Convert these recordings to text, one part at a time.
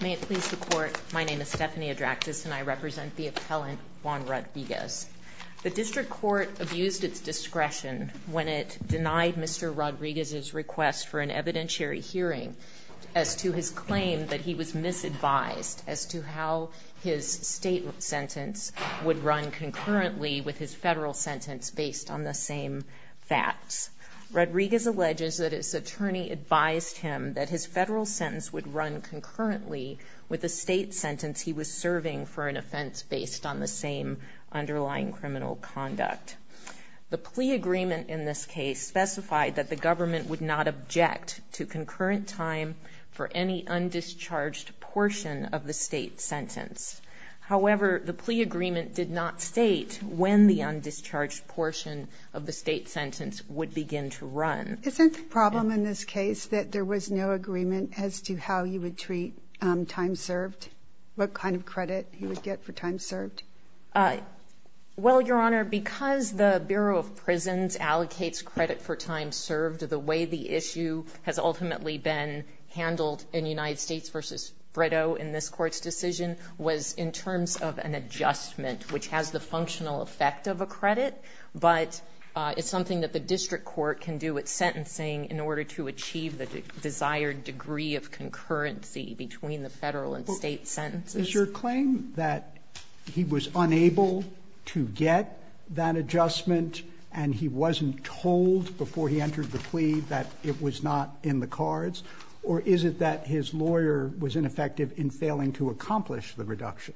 May it please the Court, my name is Stephanie Adraktis and I represent the appellant Juan Rodriguez. The district court abused its discretion when it denied Mr. Rodriguez's request for an evidentiary hearing as to his claim that he was misadvised as to how his state sentence would run concurrently with his federal sentence based on the same facts. Rodriguez alleges that his attorney advised him that his federal sentence would run concurrently with the state sentence he was serving for an offense based on the same underlying criminal conduct. The plea agreement in this case specified that the government would not object to concurrent time for any undischarged portion of the state sentence. However, the plea agreement did not state when the undischarged portion of the state sentence would begin to run. Isn't the problem in this case that there was no agreement as to how you would treat time served, what kind of credit you would get for time served? Well, Your Honor, because the Bureau of Prisons allocates credit for time served, the way the issue has ultimately been handled in United States v. Frito in this Court's decision was in terms of an adjustment which has the functional effect of a credit, but it's not something that the district court can do with sentencing in order to achieve the desired degree of concurrency between the federal and state sentences. Is your claim that he was unable to get that adjustment and he wasn't told before he entered the plea that it was not in the cards, or is it that his lawyer was ineffective in failing to accomplish the reduction?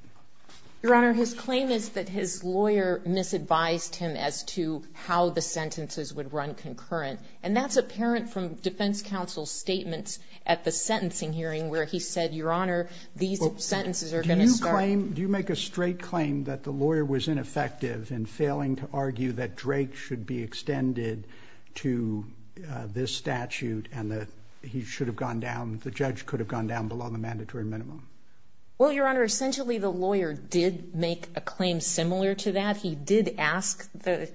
Your Honor, his claim is that his lawyer misadvised him as to how the sentences would run concurrent, and that's apparent from defense counsel's statements at the sentencing hearing where he said, Your Honor, these sentences are going to start. Do you make a straight claim that the lawyer was ineffective in failing to argue that Drake should be extended to this statute and that he should have gone down, the judge could have gone down below the mandatory minimum? Well, Your Honor, essentially the lawyer did make a claim similar to that. He did ask the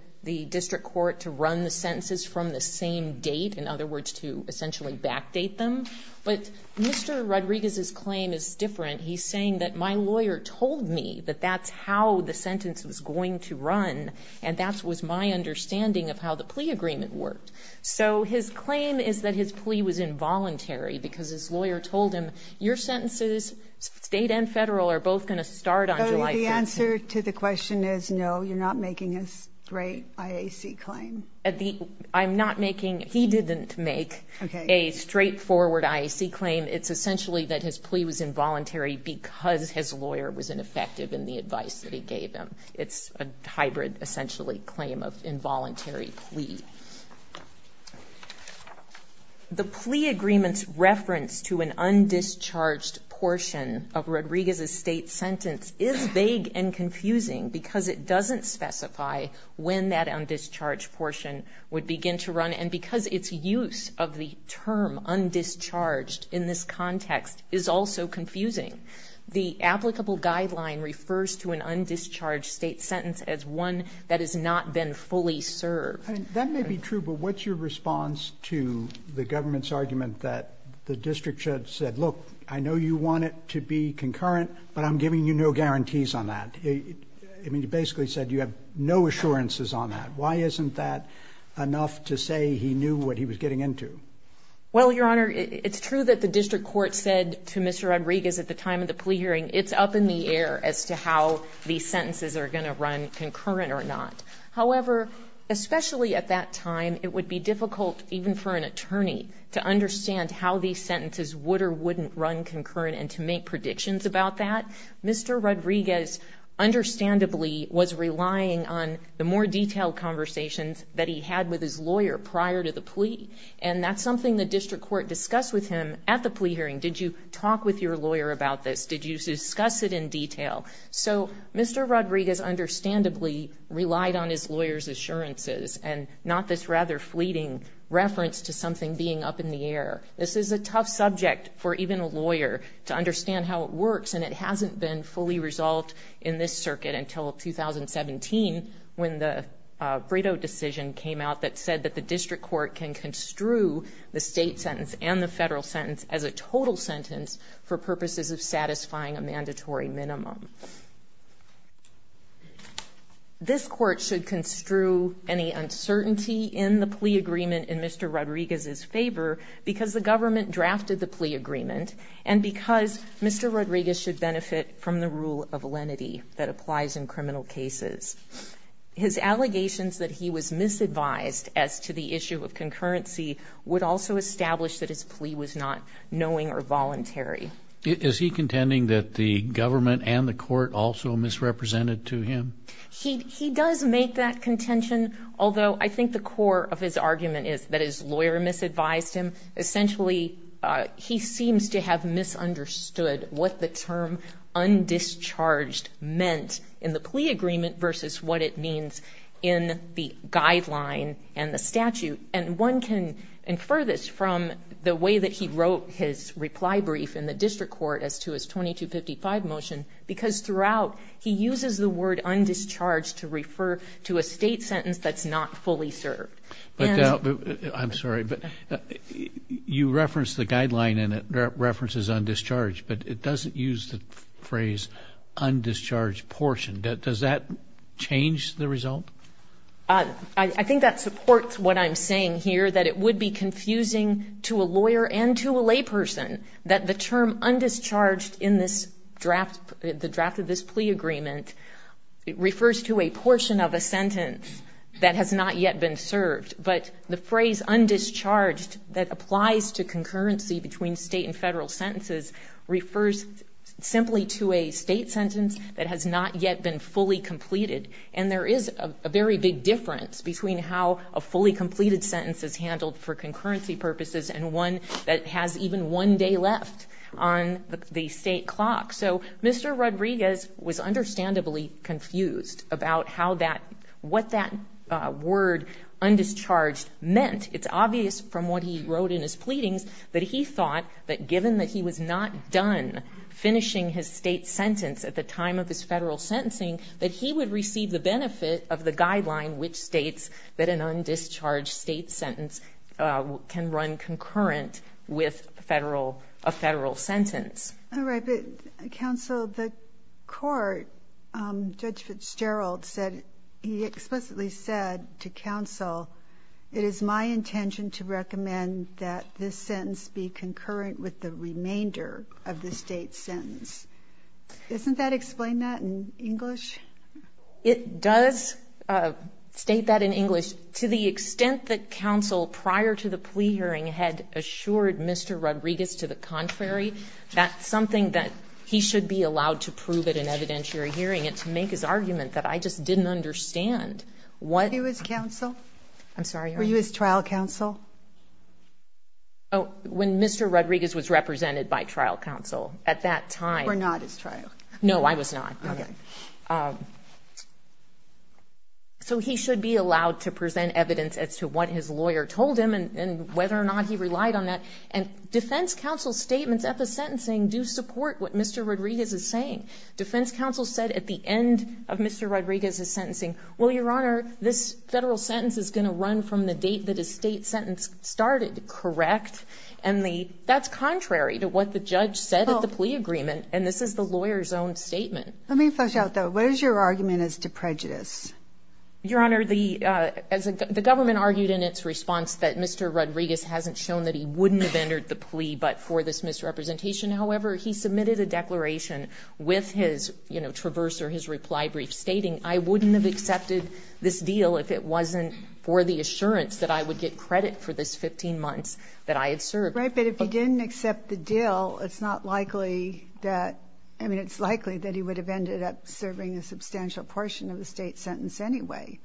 district court to run the sentences from the same date, in other words, to essentially backdate them. But Mr. Rodriguez's claim is different. He's saying that my lawyer told me that that's how the sentence was going to run, and that was my understanding of how the plea agreement worked. So his claim is that his plea was involuntary because his lawyer told him, Your sentences, state and federal, are both going to start on July 5th. So the answer to the question is no, you're not making a straight IAC claim? I'm not making, he didn't make a straightforward IAC claim. It's essentially that his plea was involuntary because his lawyer was ineffective in the advice that he gave him. It's a hybrid, essentially, claim of involuntary plea. The plea agreement's reference to an undischarged portion of Rodriguez's state sentence is vague and confusing because it doesn't specify when that undischarged portion would begin to run, and because its use of the term undischarged in this context is also confusing. The applicable guideline refers to an undischarged state sentence as one that has not been fully served. That may be true, but what's your response to the government's argument that the district judge said, Look, I know you want it to be concurrent, but I'm giving you no guarantees on that. I mean, you basically said you have no assurances on that. Why isn't that enough to say he knew what he was getting into? Well, Your Honor, it's true that the district court said to Mr. Rodriguez at the time of the plea hearing, It's up in the air as to how these sentences are going to run, concurrent or not. However, especially at that time, it would be difficult even for an attorney to understand how these sentences would or wouldn't run concurrent and to make predictions about that. Mr. Rodriguez understandably was relying on the more detailed conversations that he had with his lawyer prior to the plea. And that's something the district court discussed with him at the plea hearing. Did you talk with your lawyer about this? Did you discuss it in detail? So Mr. Rodriguez understandably relied on his lawyer's assurances and not this rather fleeting reference to something being up in the air. This is a tough subject for even a lawyer to understand how it works, and it hasn't been fully resolved in this circuit until 2017 when the Brito decision came out that said that the district court can construe the state sentence and the federal sentence as a total sentence for purposes of satisfying a mandatory minimum. This court should construe any uncertainty in the plea agreement in Mr. Rodriguez's favor because the government drafted the plea agreement and because Mr. Rodriguez should benefit from the rule of lenity that applies in criminal cases. His allegations that he was misadvised as to the issue of concurrency would also establish that his plea was not knowing or voluntary. Is he contending that the government and the court also misrepresented to him? He does make that contention, although I think the core of his argument is that his lawyer misadvised him. Essentially he seems to have misunderstood what the term undischarged meant in the plea agreement versus what it means in the guideline and the statute. And one can infer this from the way that he wrote his reply brief in the district court as to his 2255 motion because throughout he uses the word undischarged to refer to a state sentence that's not fully served. I'm sorry, but you referenced the guideline and it references undischarged, but it doesn't use the phrase undischarged portion. Does that change the result? I think that supports what I'm saying here, that it would be confusing to a lawyer and to a layperson that the term undischarged in this draft, the draft of this plea agreement, it refers to a portion of a sentence that has not yet been served. But the phrase undischarged that applies to concurrency between state and federal sentences refers simply to a state sentence that has not yet been fully completed. And there is a very big difference between how a fully completed sentence is handled for concurrency purposes and one that has even one day left on the state clock. So Mr. Rodriguez was understandably confused about what that word undischarged meant. It's obvious from what he wrote in his pleadings that he thought that given that he was not done finishing his state sentence at the time of his federal sentencing, that he would receive the benefit of the guideline which states that an undischarged state sentence can run concurrent with a federal sentence. All right, but counsel, the court, Judge Fitzgerald said, he explicitly said to counsel, it is my intention to recommend that this sentence be concurrent with the remainder of the state sentence. Doesn't that explain that in English? It does state that in English. To the extent that counsel prior to the plea hearing had assured Mr. Rodriguez to the contrary, that's something that he should be allowed to prove at an evidentiary hearing and to make his argument that I just didn't understand. Were you his trial counsel? When Mr. Rodriguez was represented by trial counsel at that time. Were not his trial. No, I was not. So he should be allowed to present evidence as to what his lawyer told him and whether or not he relied on that. And defense counsel's statements at the sentencing do support what Mr. Rodriguez is saying. Defense counsel said at the end of Mr. Rodriguez's sentencing, well, your honor, this federal sentence is going to run from the date that his state sentence started, correct? And that's contrary to what the judge said at the plea agreement, and this is the lawyer's own statement. Let me flesh out, though. What is your argument as to prejudice? Your honor, the government argued in its response that Mr. Rodriguez hasn't shown that he wouldn't have entered the plea, but for this misrepresentation, however, he submitted a declaration with his, you know, traverse or his reply brief stating, I wouldn't have accepted this deal if it wasn't for the assurance that I would get credit for this 15 months that I had served. Right, but if he didn't accept the deal, it's not likely that, I mean, it's likely that he would have ended up serving a substantial portion of the state sentence anyway.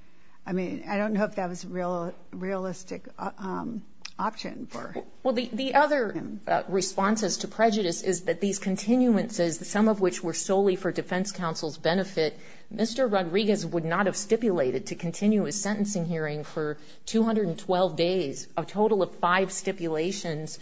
I mean, I don't know if that was a real realistic option for him. Well, the other response as to prejudice is that these continuances, some of which were solely for defense counsel's benefit, Mr. Rodriguez would not have stipulated to continue his sentencing hearing for 212 days, a total of five stipulations,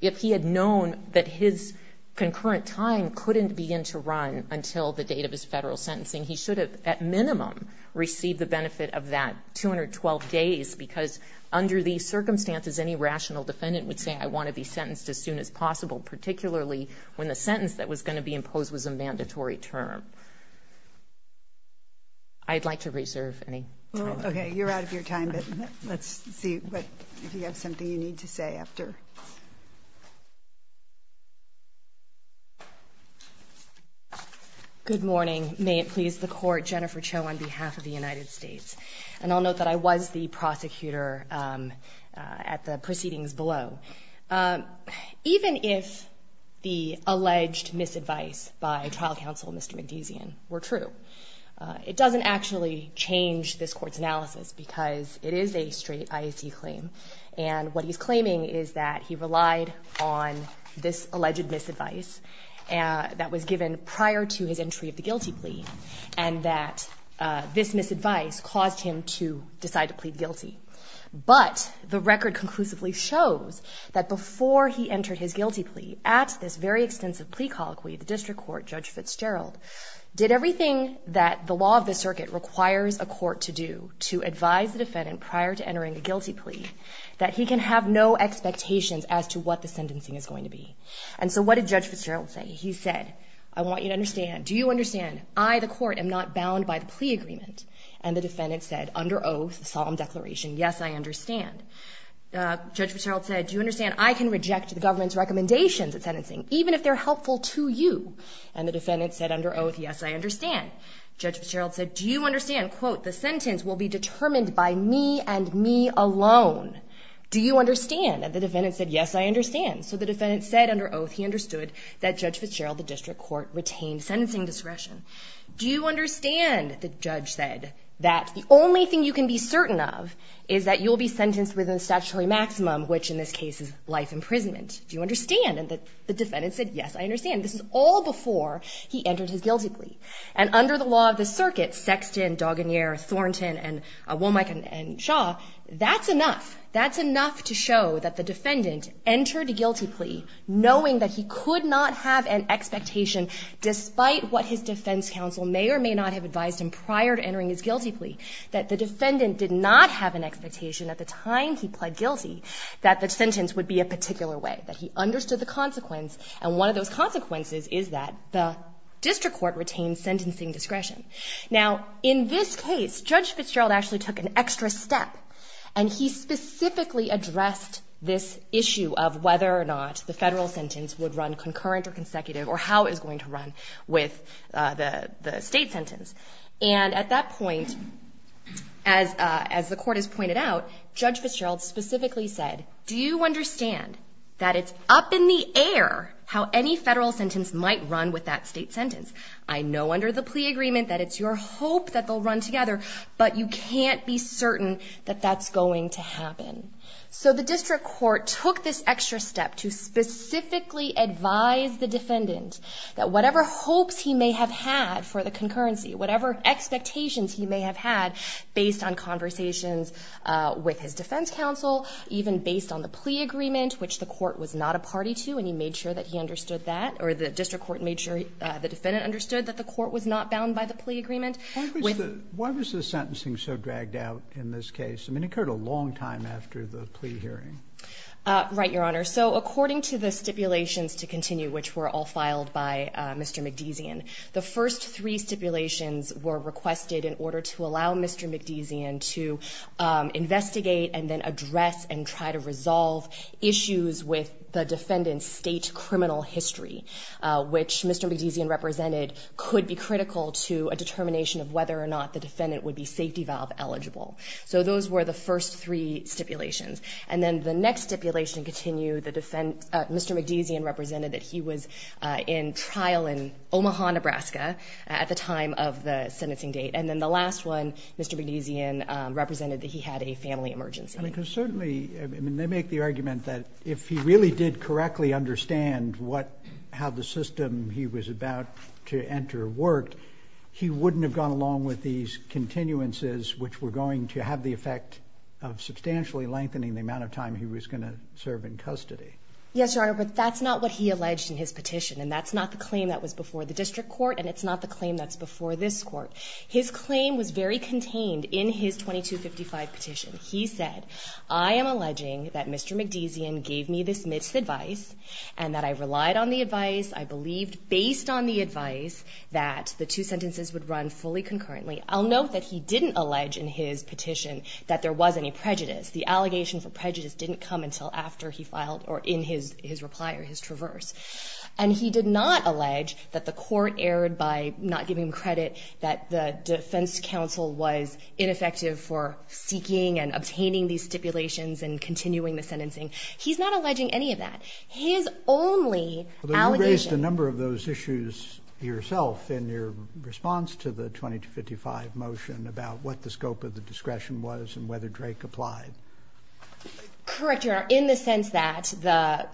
if he had known that his concurrent time couldn't begin to run until the date of his federal sentencing. He should have, at minimum, received the benefit of that 212 days, because under these circumstances, any rational defendant would say, I want to be sentenced as soon as possible, particularly when the sentence that was going to be imposed was a mandatory term. I'd like to reserve any time. Okay, you're out of your time, but let's see if you have something you need to say after. Good morning. May it please the court, Jennifer Cho on behalf of the United States. And I'll note that I was the prosecutor at the proceedings below. Even if the alleged misadvice by trial counsel, Mr. Mendezian, were true, it doesn't actually change this court's analysis, because it is a straight IAC claim, and what he's claiming is that he relied on this alleged misadvice that was given prior to his entry of the guilty plea, and that this misadvice caused him to decide to plead guilty. But the record conclusively shows that before he entered his guilty plea, at this very extensive plea colloquy, the district court, Judge Fitzgerald, did everything that the law of the circuit requires a court to do to advise the defendant prior to entering a guilty plea, that he can have no expectations as to what the sentencing is going to be. And so what did Judge Fitzgerald say? He said, I want you to understand, do you understand, I, the court, am not bound by the plea agreement. And the defendant said, under oath, solemn declaration, yes, I understand. Judge Fitzgerald said, do you understand, I can reject the government's recommendations at sentencing, even if they're helpful to you. And the defendant said, under oath, yes, I understand. Judge Fitzgerald said, do you understand, quote, the sentence will be determined by me and me alone. Do you understand? And the defendant said, yes, I understand. So the defendant said, under oath, he understood that Judge Fitzgerald, the district court, retained sentencing discretion. Do you understand, the judge said, that the only thing you can be certain of is that you'll be sentenced within the statutory maximum, which in this case is life imprisonment. Do you understand? And the defendant said, yes, I understand. This is all before he entered his guilty plea. And under the law of the circuit, Sexton, Daugonier, Thornton, and Womack, and Shaw, that's enough. That's enough to show that the defendant entered a guilty plea knowing that he could not have an expectation, despite what his defense counsel may or may not have advised him prior to entering his guilty plea, that the defendant did not have an expectation at the time he pled guilty that the sentence would be a particular way, that he understood the consequence. And one of those consequences is that the district court retained sentencing discretion. Now, in this case, Judge Fitzgerald actually took an extra step, and he specifically addressed this issue of whether or not the federal sentence would run concurrent or consecutive, or how it was going to run with the state sentence. And at that point, as the court has pointed out, Judge Fitzgerald specifically said, do you understand that it's up in the air how any federal sentence might run with that state sentence? I know under the plea agreement that it's your hope that they'll run together, but you can't be certain that that's going to happen. So the district court took this extra step to specifically advise the defendant that whatever hopes he may have had for the concurrency, whatever expectations he may have had based on conversations with his defense counsel, even based on the plea agreement, which the court was not a party to, and he made sure that he understood that, or the district court made sure the defendant understood that the court was not bound by the plea agreement. Why was the sentencing so dragged out in this case? I mean, it occurred a long time after the plea hearing. Right, Your Honor. So according to the stipulations to continue, which were all filed by Mr. McDesion, the first three stipulations were requested in order to allow Mr. McDesion to investigate and then address and try to resolve issues with the defendant's state criminal history, which Mr. McDesion represented could be critical to a determination of whether or not the defendant would be safety valve eligible. So those were the first three stipulations. And then the next stipulation continued, Mr. McDesion represented that he was in trial in Omaha, Nebraska at the time of the sentencing date. And then the last one, Mr. McDesion represented that he had a family emergency. I mean, because certainly, I mean, they make the argument that if he really did correctly understand what, how the system he was about to enter worked, he wouldn't have gone along with these continuances, which were going to have the effect of substantially lengthening the amount of time he was going to serve in custody. Yes, Your Honor, but that's not what he alleged in his petition, and that's not the claim that was before the district court, and it's not the claim that's before this court. His claim was very contained in his 2255 petition. He said, I am alleging that Mr. McDesion gave me this misadvice, and that I relied on the advice, I believed based on the advice that the two sentences would run fully concurrently. I'll note that he didn't allege in his petition that there was any prejudice. The allegation for prejudice didn't come until after he filed or in his reply or his traverse. And he did not allege that the court erred by not giving him credit, that the defense counsel was ineffective for seeking and obtaining these stipulations and continuing the sentencing. He's not alleging any of that. His only allegation. You raised a number of those issues yourself in your response to the 2255 motion about what the scope of the discretion was and whether Drake applied. Correct, Your Honor, in the sense that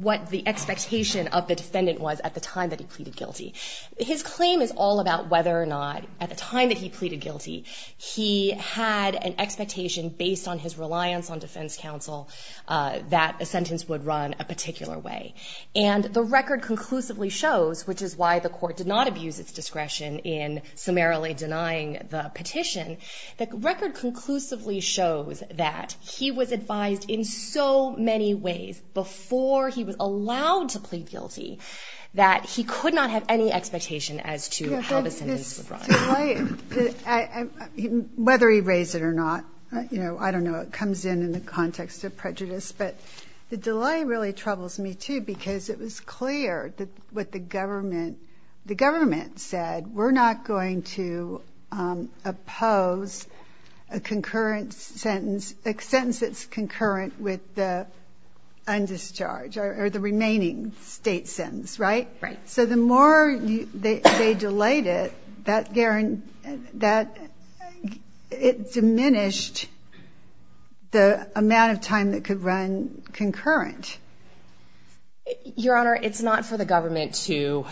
what the expectation of the defendant was at the time that he pleaded guilty. His claim is all about whether or not at the time that he pleaded guilty, he had an expectation based on his reliance on defense counsel that a sentence would run a particular way. And the record conclusively shows, which is why the court did not abuse its discretion in summarily denying the petition, the record conclusively shows that he was advised in so many ways before he was allowed to plead guilty that he could not have any expectation as to how the sentence would run. The delay, whether he raised it or not, you know, I don't know. It comes in in the context of prejudice. But the delay really troubles me, too, because it was clear that what the government, the state, was saying was we're not going to oppose a concurrent sentence, a sentence that's concurrent with the undischarge or the remaining state sentence, right? Right. So the more they delayed it, that it diminished the amount of time that could run concurrent. Your Honor, it's not for the government to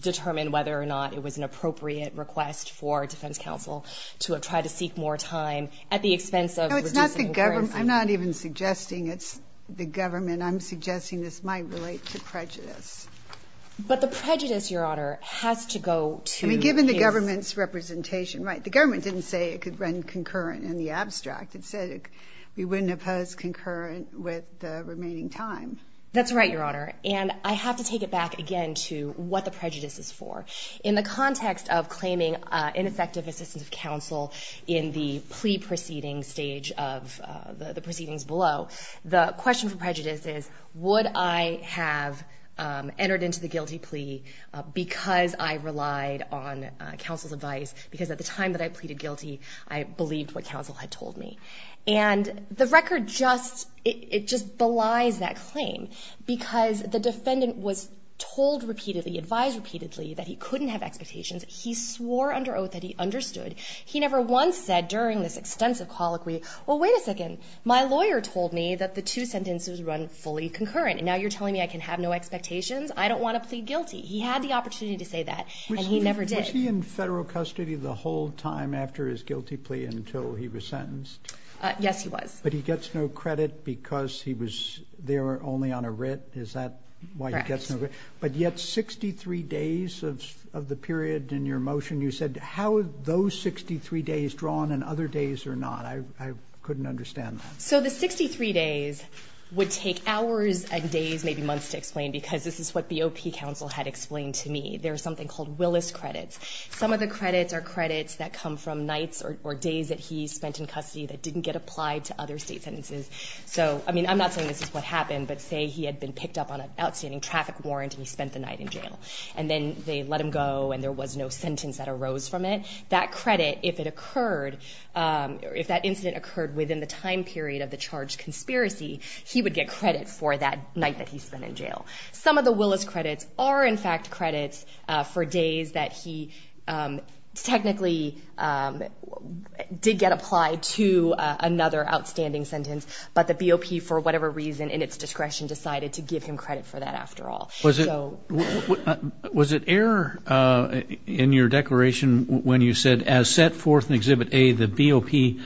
determine whether or not it was an appropriate request for defense counsel to try to seek more time at the expense of reducing concurrency. No, it's not the government. I'm not even suggesting it's the government. I'm suggesting this might relate to prejudice. But the prejudice, Your Honor, has to go to the case. I mean, given the government's representation, right, the government didn't say it could run concurrent in the abstract. It said we wouldn't oppose concurrent with the remaining time. That's right, Your Honor. And I have to take it back again to what the prejudice is for. In the context of claiming ineffective assistance of counsel in the plea proceeding stage of the proceedings below, the question for prejudice is would I have entered into the guilty plea because I relied on counsel's advice, because at the time that I told me. And the record just belies that claim because the defendant was told repeatedly, advised repeatedly that he couldn't have expectations. He swore under oath that he understood. He never once said during this extensive colloquy, well, wait a second, my lawyer told me that the two sentences run fully concurrent. Now you're telling me I can have no expectations? I don't want to plead guilty. He had the opportunity to say that, and he never did. Was he in federal custody the whole time after his guilty plea until he was sentenced? Yes, he was. But he gets no credit because he was there only on a writ? Is that why he gets no credit? Correct. But yet 63 days of the period in your motion, you said, how are those 63 days drawn and other days are not? I couldn't understand that. So the 63 days would take hours and days, maybe months to explain because this is what the OP counsel had explained to me. There's something called Willis credits. Some of the credits are credits that come from nights or days that he spent in custody that didn't get applied to other state sentences. So, I mean, I'm not saying this is what happened, but say he had been picked up on an outstanding traffic warrant and he spent the night in jail. And then they let him go and there was no sentence that arose from it. That credit, if it occurred, if that incident occurred within the time period of the credits are, in fact, credits for days that he technically did get applied to another outstanding sentence. But the BOP, for whatever reason, in its discretion, decided to give him credit for that after all. Was it error in your declaration when you said, as set forth in Exhibit A, the BOP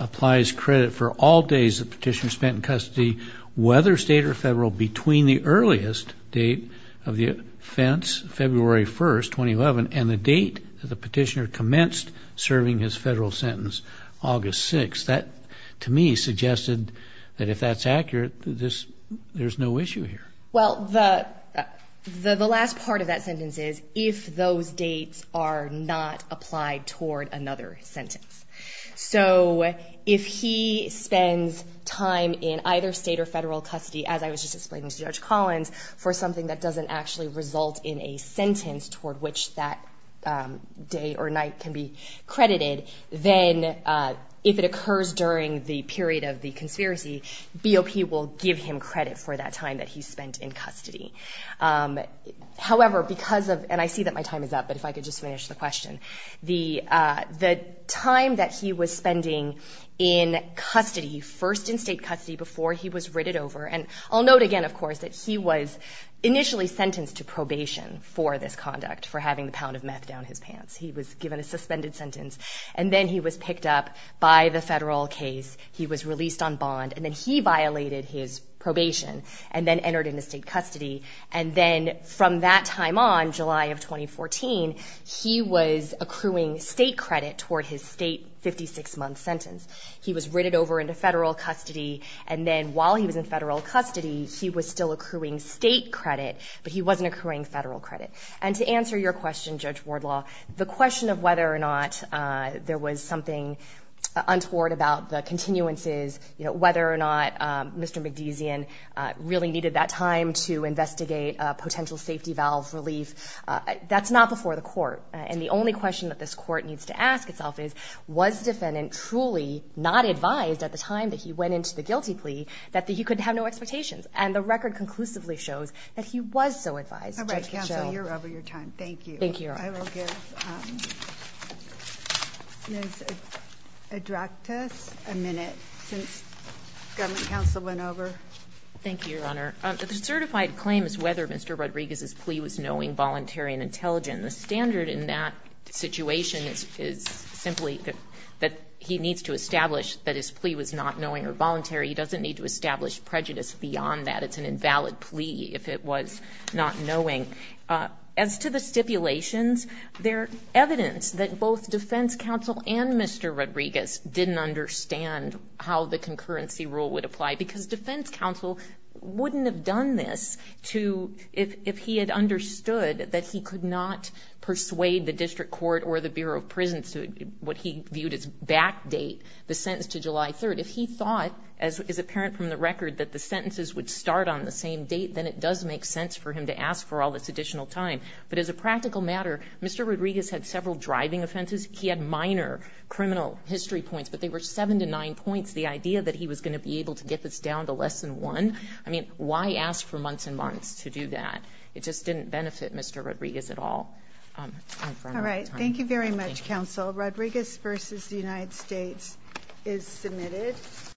applies credit for all days the petitioner spent in custody, whether state or federal, between the earliest date of the offense, February 1st, 2011, and the date that the petitioner commenced serving his federal sentence, August 6th? That, to me, suggested that if that's accurate, there's no issue here. Well, the last part of that sentence is if those dates are not applied toward another sentence. So if he spends time in either state or federal custody, as I was just explaining to Judge Collins, for something that doesn't actually result in a sentence toward which that day or night can be credited, then if it occurs during the period of the conspiracy, BOP will give him credit for that time that he spent in custody. However, because of, and I see that my time is up, but if I could just finish the question, the time that he was spending in custody, first in state custody before he was written over, and I'll note again, of course, that he was initially sentenced to probation for this conduct, for having the pound of meth down his pants. He was given a suspended sentence, and then he was picked up by the federal case. He was released on bond, and then he violated his probation and then entered into state custody, and then from that time on, July of 2014, he was accruing state credit toward his state 56-month sentence. He was written over into federal custody, and then while he was in federal custody, he was still accruing state credit, but he wasn't accruing federal credit. And to answer your question, Judge Wardlaw, the question of whether or not there was something untoward about the continuances, you know, whether or not Mr. McDesion really needed that time to investigate a potential safety valve relief, that's not before the court. And the only question that this court needs to ask itself is, was the defendant truly not advised at the time that he went into the guilty plea that he could have no expectations? And the record conclusively shows that he was so advised, Judge Michelle. All right, counsel, you're over your time. Thank you. Thank you, Your Honor. I will give Ms. Adractas a minute, since government counsel went over. Thank you, Your Honor. The certified claim is whether Mr. Rodriguez's plea was knowing, voluntary, and intelligent. The standard in that situation is simply that he needs to establish that his plea was not knowing or voluntary. He doesn't need to establish prejudice beyond that. It's an invalid plea if it was not knowing. As to the stipulations, there's evidence that both defense counsel and Mr. Rodriguez didn't understand how the concurrency rule would apply, because defense counsel wouldn't have done this if he had understood that he could not persuade the district court or the Bureau of Prisons to what he viewed as back date, the sentence to July 3rd. If he thought, as is apparent from the record, that the sentences would start on the same date, then it does make sense for him to ask for all this additional time. But as a practical matter, Mr. Rodriguez had several driving offenses. He had minor criminal history points, but they were 7 to 9 points, the idea that he was going to be able to get this down to less than 1. I mean, why ask for months and months to do that? It just didn't benefit Mr. Rodriguez at all. All right. Thank you very much, counsel. Rodriguez v. The United States is submitted.